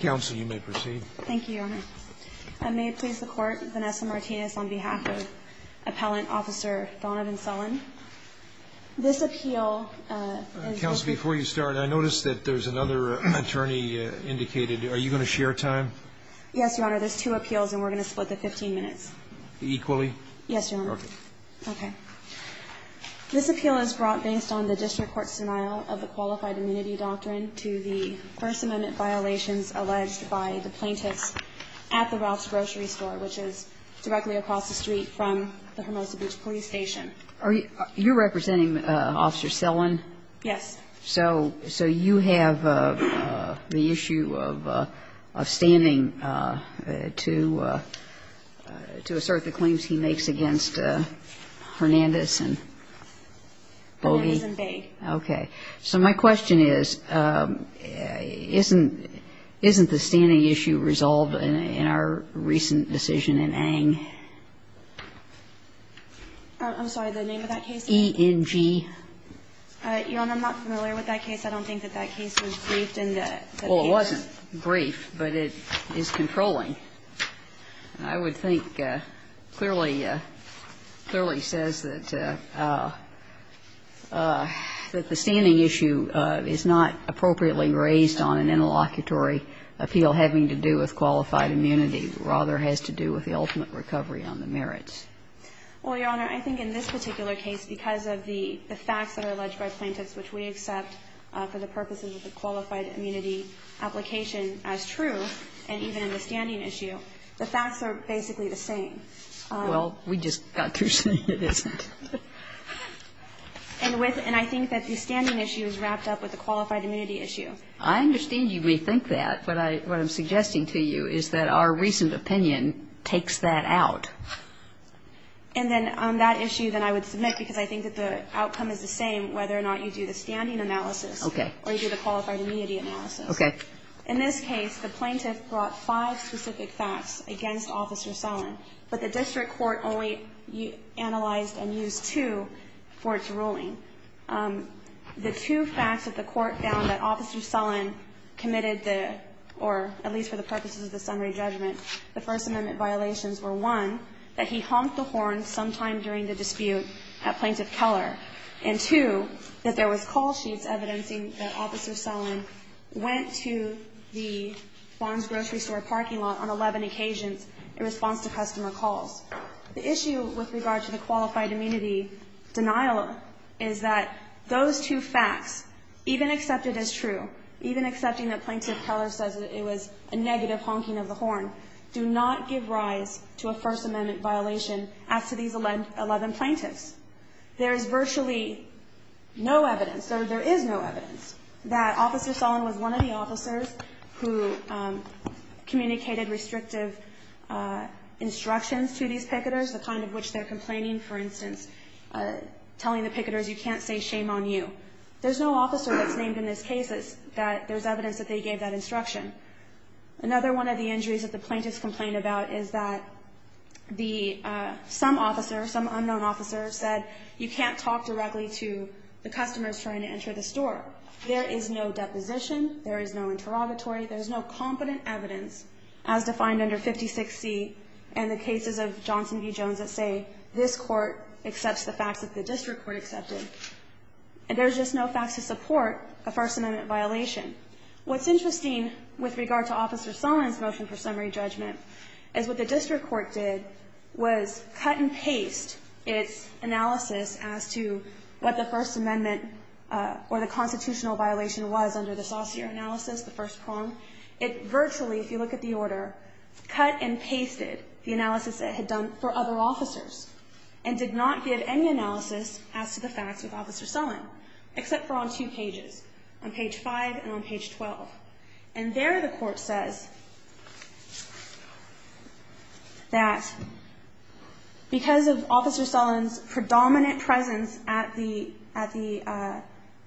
Council, you may proceed. Thank you, Your Honor. I may place the court Vanessa Martinez on behalf of Appellant Officer Donovan Sullen. This appeal... Council, before you start, I noticed that there's another attorney indicated. Are you going to share time? Yes, Your Honor. There's two appeals and we're going to split the 15 minutes. Equally? Yes, Your Honor. Okay. This appeal is brought based on the District Court's allegations alleged by the plaintiffs at the Ralph's Grocery Store, which is directly across the street from the Hermosa Beach Police Station. You're representing Officer Sullen? Yes. So you have the issue of standing to assert the claims he makes against Hernandez and Bogey? Hernandez and Baig. Okay. So my question is, isn't the standing issue resolved in our recent decision in Aang? I'm sorry, the name of that case? E.N.G. Your Honor, I'm not familiar with that case. I don't think that that case was briefed in the case. Well, it wasn't briefed, but it is controlling. I would think clearly, clearly says that the standing issue is not appropriately raised on an interlocutory appeal having to do with qualified immunity. Rather, it has to do with the ultimate recovery on the merits. Well, Your Honor, I think in this particular case, because of the facts that are alleged by plaintiffs, which we accept for the purposes of the qualified immunity application as true, and even in the standing issue, the facts are basically the same. Well, we just got through saying it isn't. And with the standing issue is wrapped up in the fact that it's wrapped up with the qualified immunity issue. I understand you may think that. But what I'm suggesting to you is that our recent opinion takes that out. And then on that issue, then I would submit, because I think that the outcome is the same, whether or not you do the standing analysis or you do the qualified immunity analysis. Okay. In this case, the plaintiff brought five specific facts against Officer Sullen, but the district court only analyzed and used two for its ruling. The two facts that the court found that Officer Sullen committed the, or at least for the purposes of the summary judgment, the First Amendment violations were, one, that he honked the horn sometime during the dispute at Plaintiff Keller, and, two, that there was call sheets evidencing that Officer Sullen went to the Barnes Grocery store parking lot on 11 occasions in response to customer calls. The issue with regard to the qualified immunity denial is that those two facts, even accepted as true, even accepting that Plaintiff Keller says that it was a negative honking of the horn, do not give rise to a First Amendment violation as to these 11 plaintiffs. There is virtually no evidence, or there is no evidence, that Officer Sullen was one of the officers who communicated restrictive instructions to these picketers, the kind of which they're complaining, for instance, telling the picketers you can't say shame on you. There's no officer that's named in this case that there's evidence that they gave that instruction. Another one of the injuries that the plaintiffs complained about is that some officer, some unknown officer, said you can't talk directly to the customers trying to enter the store. There is no deposition, there is no interrogatory, there's no competent evidence, as defined under 56C, and the cases of Johnson v. Jones that say this court accepts the facts that the district court accepted. And there's just no facts to support a First Amendment violation. What's interesting with regard to Officer Sullen's motion for summary judgment is what the district court did was cut and paste its analysis as to what the First Amendment or the constitutional violation was under the saucier analysis, the first prong. It virtually, if you look at the order, cut and pasted the analysis it had done for other officers and did not give any analysis as to the facts of Officer Sullen, except for on two pages, on page 5 and on page 12. And there the court says that because of Officer Sullen's predominant presence at the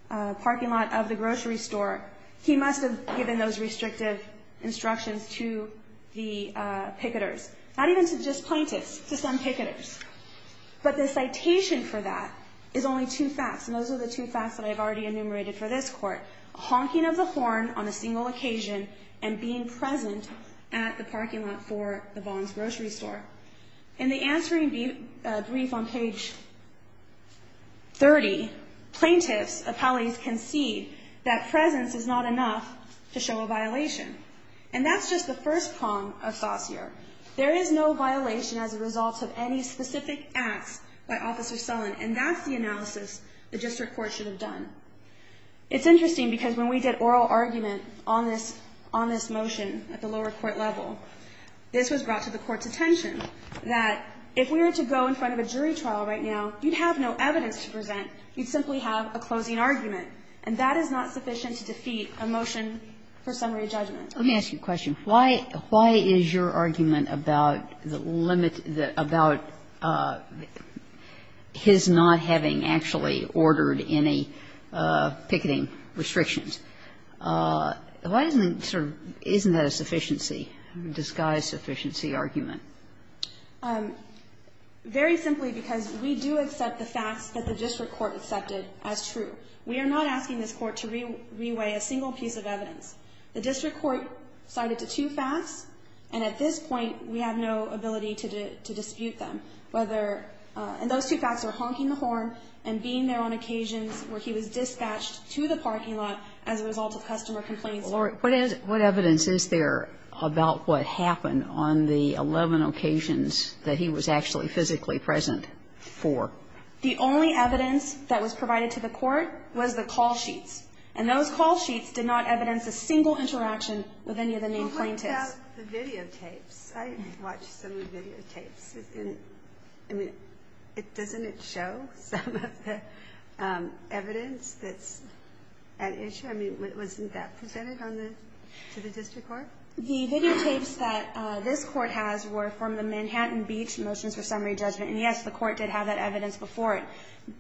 parking lot of the grocery store, he must have given those restrictive instructions to the picketers, not even to just plaintiffs, to some picketers. But the citation for that is only two facts, and those are the two facts that I've already enumerated for this court, honking of the horn on a single occasion and being present at the parking lot for the Bond's grocery store. In the answering brief on page 30, plaintiffs, appellees can see that presence is not enough to show a violation. And that's just the first prong of saucier. There is no violation as a result of any specific acts by Officer Sullen, and that's the analysis the district court should have done. It's interesting because when we did oral argument on this motion at the lower court level, this was brought to the court's attention, that if we were to go in front of a jury trial right now, you'd have no evidence to support that closing argument. And that is not sufficient to defeat a motion for summary judgment. Kagan. Let me ask you a question. Why is your argument about the limit, about his not having actually ordered any picketing restrictions, why isn't it sort of, isn't that a sufficiency, disguised sufficiency argument? Very simply because we do accept the facts that the district court accepted as true. We are not asking this court to re-weigh a single piece of evidence. The district court cited the two facts, and at this point we have no ability to dispute them. And those two facts are honking the horn and being there on occasions where he was dispatched to the parking lot as a result of customer complaints. All right. What evidence is there about what happened on the 11 occasions that he was actually physically present for? The only evidence that was provided to the court was the call sheets. And those call sheets did not evidence a single interaction with any of the main plaintiffs. Well, what about the videotapes? I watched some videotapes. I mean, doesn't it show some of the evidence that's at issue? I mean, wasn't that presented to the district court? The videotapes that this court has were from the Manhattan Beach motions for summary judgment. And, yes, the court did have that evidence before it.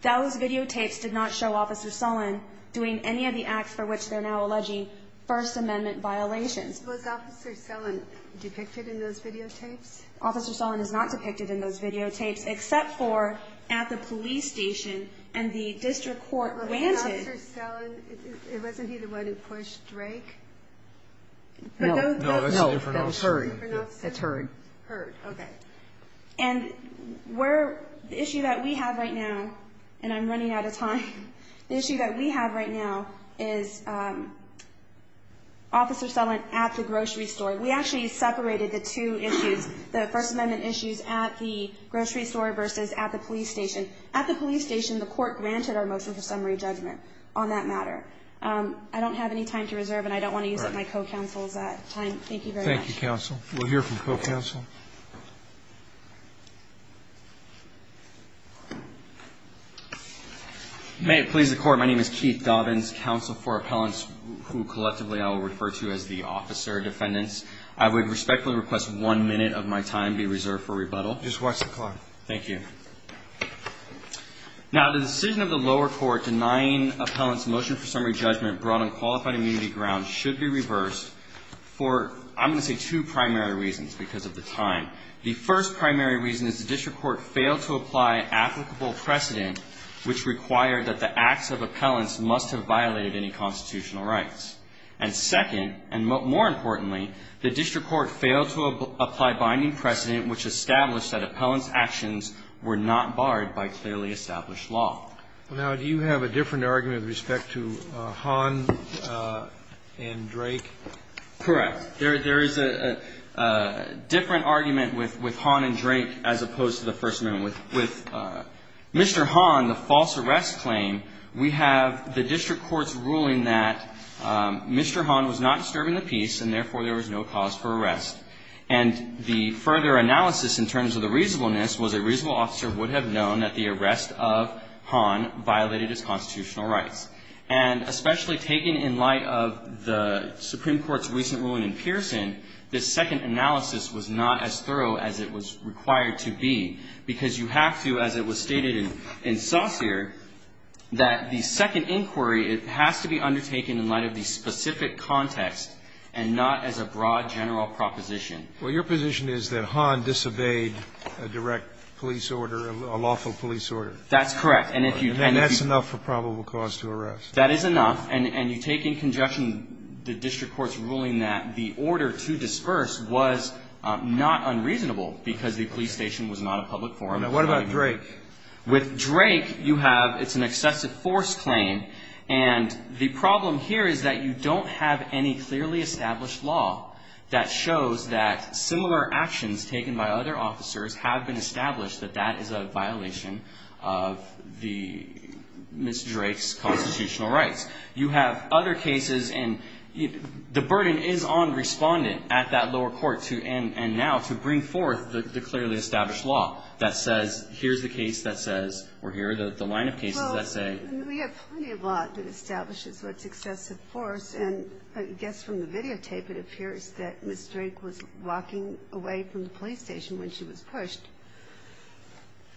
Those videotapes did not show Officer Sullen doing any of the acts for which they're now alleging First Amendment violations. Was Officer Sullen depicted in those videotapes? Officer Sullen is not depicted in those videotapes except for at the police station and the district court granted. But Officer Sullen, wasn't he the one who pushed Drake? No. No, that was heard. That's heard. Heard, okay. And the issue that we have right now, and I'm running out of time, the issue that we have right now is Officer Sullen at the grocery store. We actually separated the two issues, the First Amendment issues at the grocery store versus at the police station. At the police station, the court granted our motion for summary judgment on that matter. I don't have any time to reserve and I don't want to use up my co-counsel's time. Thank you very much. Thank you, counsel. We'll hear from co-counsel. May it please the Court. My name is Keith Dobbins, counsel for appellants who collectively I will refer to as the officer defendants. I would respectfully request one minute of my time be reserved for rebuttal. Just watch the clock. Thank you. Now, the decision of the lower court denying appellants motion for summary judgment brought on qualified immunity grounds should be reversed for, I'm going to say, two primary reasons because of the time. The first primary reason is the district court failed to apply applicable precedent, which required that the acts of appellants must have violated any constitutional rights. And second, and more importantly, the district court failed to apply binding precedent, which established that appellants' actions were not barred by clearly established law. Now, do you have a different argument with respect to Hahn and Drake? Correct. There is a different argument with Hahn and Drake as opposed to the First Amendment. With Mr. Hahn, the false arrest claim, we have the district court's ruling that Mr. Hahn was not disturbing the peace and, therefore, there was no cause for arrest. And the further analysis in terms of the reasonableness was a reasonable officer would have known that the arrest of Hahn violated his constitutional rights. And especially taken in light of the Supreme Court's recent ruling in Pearson, this second analysis was not as thorough as it was required to be, because you have to, as it was stated in Saussure, that the second inquiry, it has to be undertaken in light of the specific context and not as a broad general proposition. Well, your position is that Hahn disobeyed a direct police order, a lawful police order. That's correct. And if you don't if you And that's enough for probable cause to arrest. That is enough. And you take in conjunction the district court's ruling that the order to disperse was not unreasonable because the police station was not a public forum. Now, what about Drake? With Drake, you have it's an excessive force claim. And the problem here is that you don't have any clearly established law that shows that similar actions taken by other officers have been established that that is a violation of the Mr. Drake's constitutional rights. You have other cases and the burden is on respondent at that lower court to and now to bring forth the clearly established law that says here's the case that says or here are the line of cases that say Well, we have plenty of law that establishes what's excessive force and I guess from the videotape it appears that Mr. Drake was walking away from the police station when she was pushed.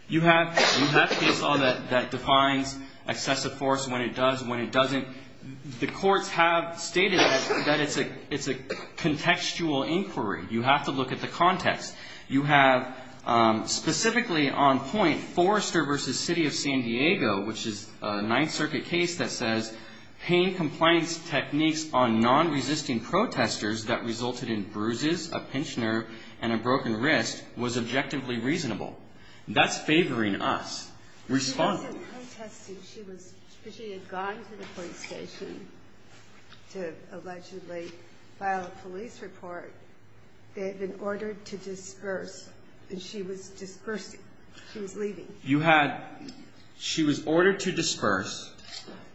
You have that defines excessive force when it does when it doesn't. The courts have stated that it's a it's a contextual inquiry. You have to look at the context. You have specifically on point Forrester versus city of San Diego, which is a Ninth Circuit case that says pain compliance techniques on non resisting protesters that resulted in bruises, a pinched nerve and a broken wrist was objectively reasonable. That's favoring us respond. She was she had gone to the police station to allegedly file a police report. They have been ordered to disperse and she was dispersed. She was leaving. You had she was ordered to disperse.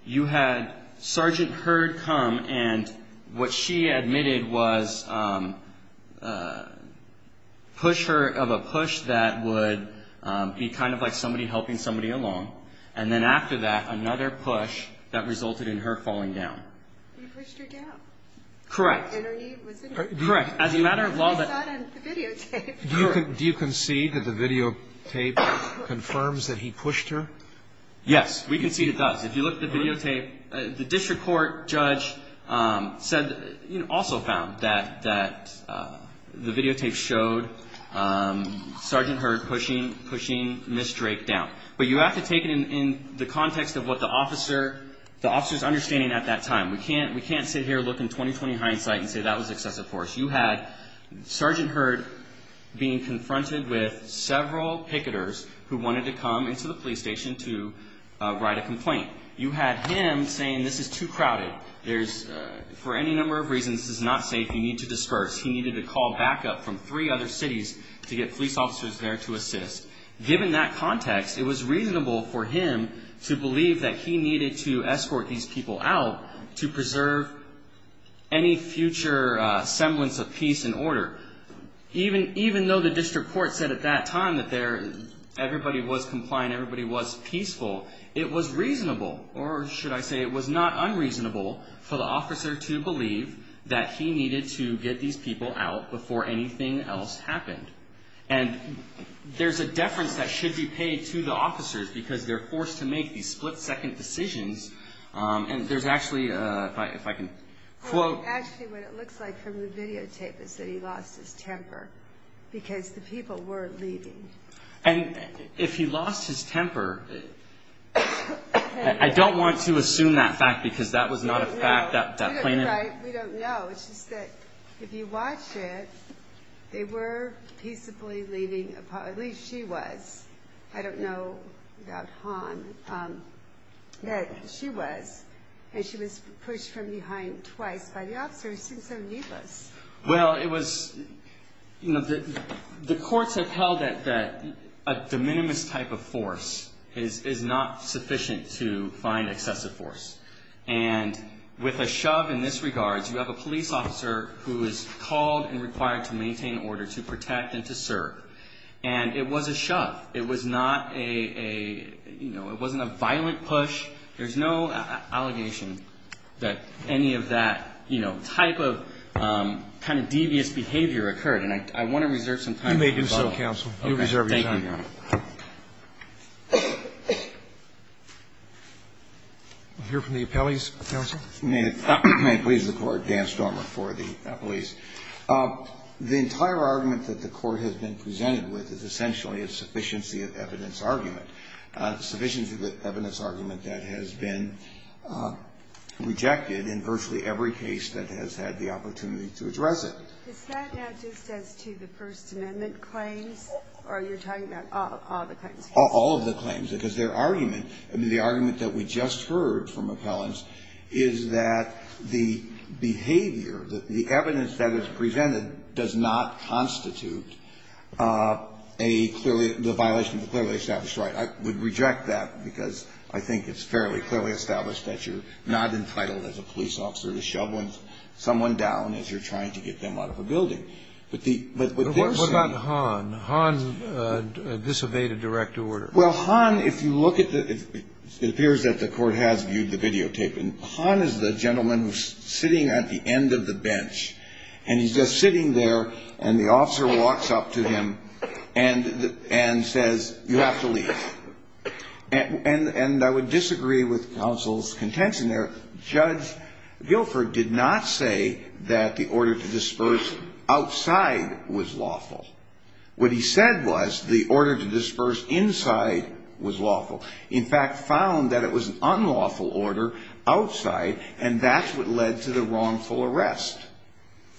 You had Sergeant heard come and what she admitted was push her of a push that would be kind of like somebody helping somebody along. And then after that, another push that resulted in her falling down. Correct. Correct. As a matter of law that you can see that the videotape confirms that he pushed her. Yes, we can see it does. If you look at the videotape, the district court judge said also found that that the videotape showed Sergeant heard pushing, pushing Miss Drake down. But you have to take it in the context of what the officer, the officer's understanding at that time. We can't we can't sit here, look in 20, 20 hindsight and say that was excessive force. You had Sergeant heard being confronted with several picketers who wanted to come into the police organization to write a complaint. You had him saying this is too crowded. There's for any number of reasons is not safe. You need to disperse. He needed to call backup from three other cities to get police officers there to assist. Given that context, it was reasonable for him to believe that he needed to escort these people out to preserve any future semblance of peace and order. Even even though the district court said at that time that there everybody was compliant, everybody was peaceful. It was reasonable. Or should I say it was not unreasonable for the officer to believe that he needed to get these people out before anything else happened. And there's a deference that should be paid to the officers because they're forced to make these split second decisions. And there's actually if I if I can quote actually what it looks like from the videotape is that he lost his temper because the people were leaving. And if he lost his temper, I don't want to assume that fact because that was not a fact that that we don't know. It's just that if you watch it, they were peaceably leaving. At least she was. I don't know about Han that she was and she was pushed from behind twice by the officers. So needless. Well, it was you know, the courts have held that that a de minimis type of force is not sufficient to find excessive force. And with a shove in this regards, you have a police officer who is called and required to maintain order to protect and to serve. And it was a shove. It was not a you know, it wasn't a violent push. There's no allegation that any of that, you know, type of kind of devious behavior occurred. And I want to reserve some time. You may do so, counsel. You reserve your time. Thank you, Your Honor. I'll hear from the appellees, counsel. May it please the Court. Dan Stormer for the appellees. The entire argument that the Court has been presented with is essentially a sufficiency of evidence argument that has been rejected in virtually every case that has had the opportunity to address it. Is that just as to the First Amendment claims? Or are you talking about all of the claims? All of the claims, because their argument, I mean, the argument that we just heard from appellants is that the behavior, the evidence that is presented does not constitute a clearly the violation of a clearly established right. I would reject that because I think it's fairly clearly established that you're not entitled as a police officer to shove someone down as you're trying to get them out of a building. But the what they're saying What about Hahn? Hahn disobeyed a direct order. Well, Hahn, if you look at the it appears that the Court has viewed the videotape. And Hahn is the gentleman who's sitting at the end of the bench. And he's just sitting there and the officer walks up to him and says, you have to leave. And I would disagree with counsel's contention there. Judge Guilford did not say that the order to disperse outside was lawful. What he said was the order to disperse inside was lawful. In fact, found that it was an unlawful order outside. And that's what led to the wrongful arrest.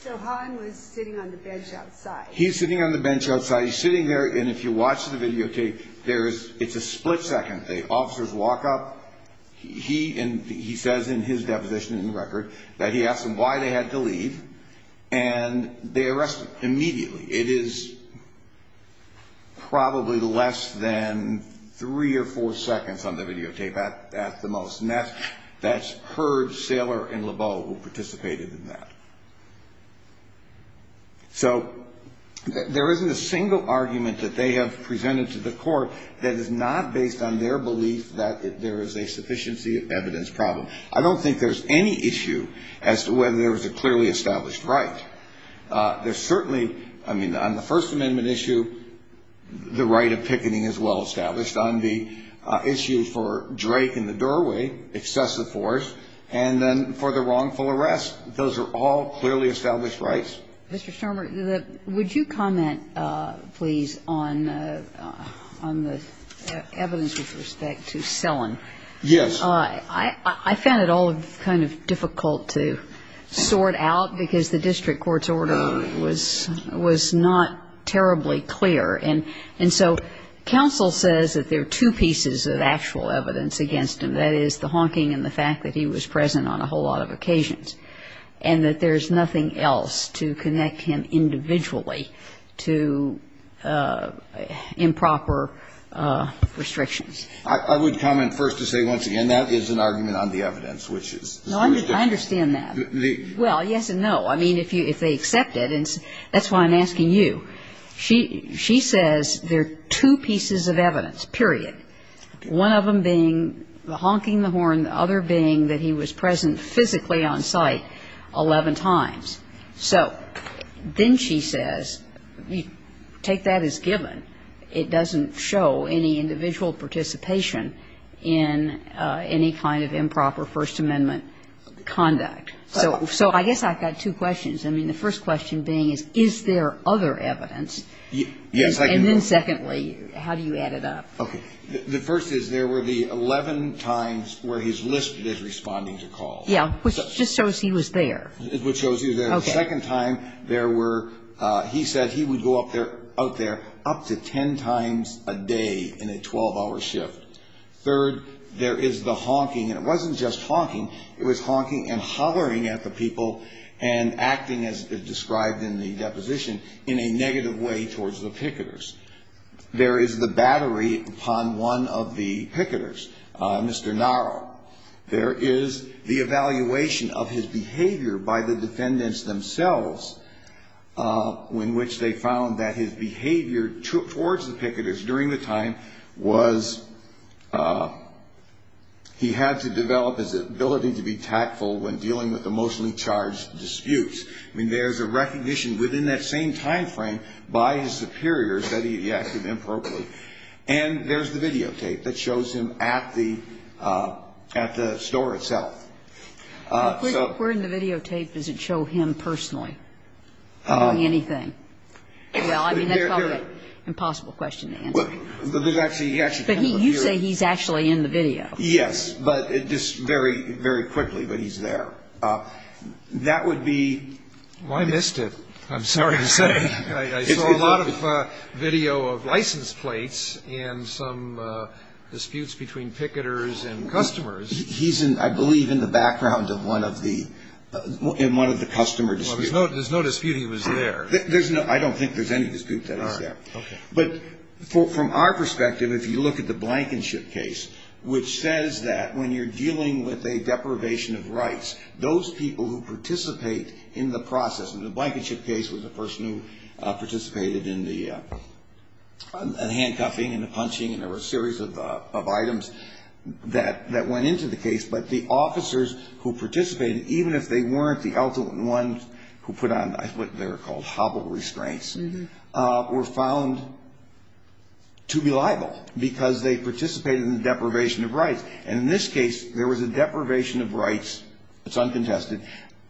So Hahn was sitting on the bench outside. He's sitting on the bench outside. He's sitting there. And if you watch the videotape, there is it's a split second. The officers walk up. He and he says in his deposition in the record that he asked them why they had to leave. And they arrested immediately. It is probably less than three or four seconds on the videotape at the most. And that's Hurd, Saylor and Lebeau who participated in that. So there isn't a single argument that they have presented to the court that is not based on their belief that there is a sufficiency of evidence problem. I don't think there's any issue as to whether there was a clearly established right. There's certainly, I mean, on the First Amendment issue, the right of picketing is well established. On the issue for Drake and the doorway, excessive force, and then for the wrongful arrest, those are all clearly established rights. Mr. Stormer, would you comment, please, on the evidence with respect to Sellon? Yes. I found it all kind of difficult to sort out because the district court's order was not terribly clear. And so counsel says that there are two pieces of actual evidence against him. That is the honking and the fact that he was present on a whole lot of occasions. And that there's nothing else to connect him individually to improper restrictions. I would comment first to say once again that is an argument on the evidence, which is the district. No, I understand that. Well, yes and no. I mean, if they accept it, and that's why I'm asking you. She says there are two pieces of evidence, period, one of them being the honking the horn, the other being that he was present physically on site 11 times. So then she says take that as given. It doesn't show any individual participation in any kind of improper First Amendment conduct. So I guess I've got two questions. I mean, the first question being is, is there other evidence? Yes. And then secondly, how do you add it up? Okay. The first is there were the 11 times where he's listed as responding to calls. Yeah. Which just shows he was there. Which shows he was there. Okay. The second time there were he said he would go up there, out there up to 10 times a day in a 12-hour shift. Third, there is the honking. And it wasn't just honking. It was honking and hollering at the people and acting, as described in the deposition, in a negative way towards the picketers. There is the battery upon one of the picketers, Mr. Naro. There is the evaluation of his behavior by the defendants themselves, in which they found that his behavior towards the picketers during the time was he had to develop his ability to be tactful when dealing with emotionally charged disputes. I mean, there's a recognition within that same time frame by his superiors that he acted improperly. And there's the videotape that shows him at the store itself. Where in the videotape does it show him personally doing anything? Well, I mean, that's probably an impossible question to answer. Well, there's actually kind of a theory. But you say he's actually in the video. Yes. But just very, very quickly, but he's there. That would be. I missed it. I'm sorry to say. I saw a lot of video of license plates and some disputes between picketers and customers. He's in, I believe, in the background of one of the, in one of the customer disputes. Well, there's no dispute he was there. There's no, I don't think there's any dispute that he's there. All right. Okay. But from our perspective, if you look at the Blankenship case, which says that when you're dealing with a deprivation of rights, those people who participate in the process, and the Blankenship case was the person who participated in the handcuffing and the punching, and there were a series of items that went into the case. But the officers who participated, even if they weren't the ultimate ones who put on what they're called hobble restraints, were found to be liable because they participated in the deprivation of rights. And in this case, there was a deprivation of rights, it's uncontested,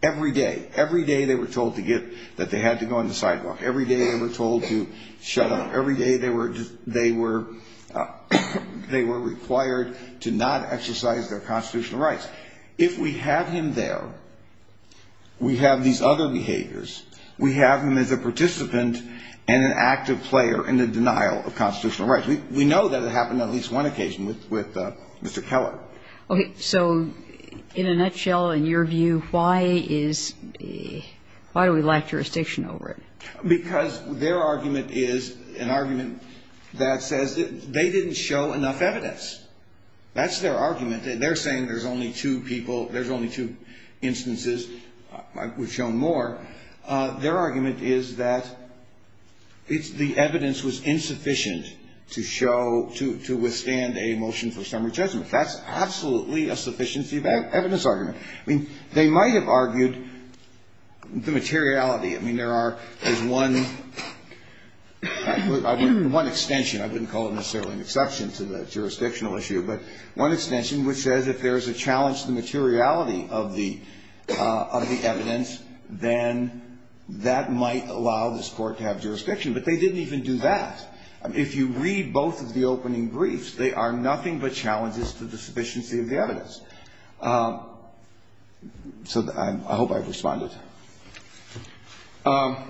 every day. Every day they were told to get, that they had to go on the sidewalk. Every day they were told to shut up. Every day they were, they were required to not exercise their constitutional rights. If we have him there, we have these other behaviors. We have him as a participant and an active player in the denial of constitutional rights. We know that it happened on at least one occasion with Mr. Keller. Okay. So in a nutshell, in your view, why is, why do we lack jurisdiction over it? Because their argument is an argument that says they didn't show enough evidence. That's their argument. They're saying there's only two people, there's only two instances. We've shown more. Their argument is that the evidence was insufficient to show, to withstand a motion for summary judgment. That's absolutely a sufficiency of evidence argument. I mean, they might have argued the materiality. I mean, there are, there's one, one extension. I wouldn't call it necessarily an exception to the jurisdictional issue. But one extension which says if there's a challenge to the materiality of the, of the evidence, then that might allow this Court to have jurisdiction. But they didn't even do that. If you read both of the opening briefs, they are nothing but challenges to the sufficiency of the evidence. So I hope I've responded. I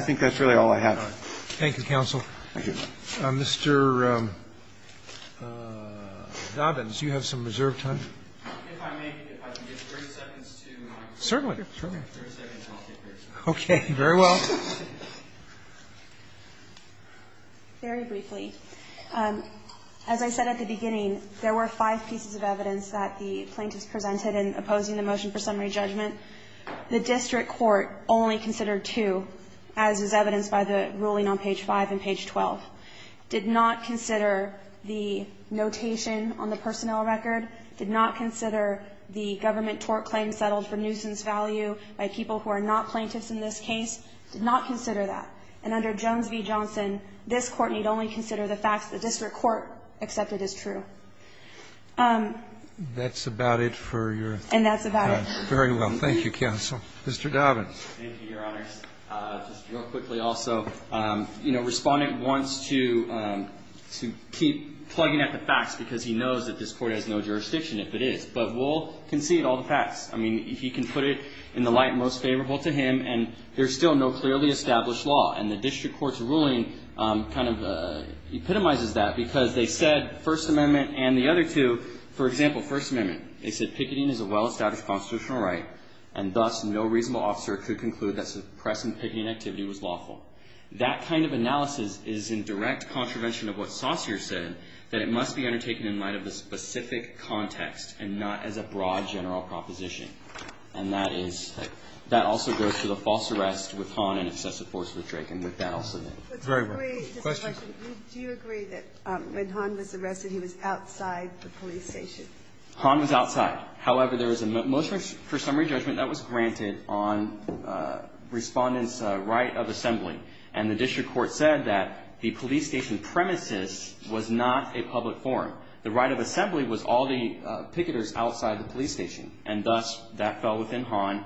think that's really all I have. Roberts. Thank you, counsel. Thank you. Mr. Dobbins, you have some reserved time. If I may, if I can get 30 seconds to my question. Certainly. 30 seconds and I'll get back to you. Okay. Very well. Very briefly. As I said at the beginning, there were five pieces of evidence that the plaintiffs presented in opposing the motion for summary judgment. The district court only considered two, as is evidenced by the ruling on page 5 and page 12, did not consider the notation on the personnel record, did not consider the government tort claim settled for nuisance value by people who are not plaintiffs in this case, did not consider that. And under Jones v. Johnson, this Court need only consider the facts the district court accepted as true. That's about it for your time. And that's about it. Very well. Thank you, counsel. Mr. Dobbins. Thank you, Your Honors. Just real quickly also, you know, Respondent wants to, to keep plugging at the facts because he knows that this Court has no jurisdiction, if it is. But we'll concede all the facts. I mean, he can put it in the light most favorable to him, and there's still no clearly established law. And the district court's ruling kind of epitomizes that because they said First Amendment and the other two, for example, First Amendment, they said picketing is a well-established constitutional right, and thus no reasonable officer could conclude that suppressing picketing activity was lawful. That kind of analysis is in direct contravention of what Saussure said, that it must be undertaken in light of a specific context and not as a broad general proposition. And that is, that also goes to the false arrest with Hahn and excessive force with Drake, and with that I'll submit. Very well. Question. Do you agree that when Hahn was arrested, he was outside the police station? Hahn was outside. However, there is a motion for summary judgment that was granted on Respondent's right of assembly, and the district court said that the police station premises was not a public forum. The right of assembly was all the picketers outside the police station, and thus, that fell within Hahn.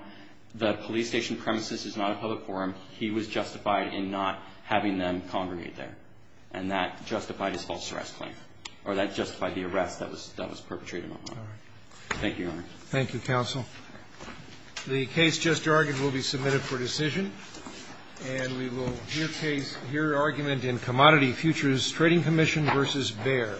The police station premises is not a public forum. He was justified in not having them congregate there. And that justified his false arrest claim. Or that justified the arrest that was perpetrated on Hahn. Thank you, Your Honor. Thank you, counsel. The case just argued will be submitted for decision. And we will hear argument in Commodity Futures Trading Commission v. Bayer.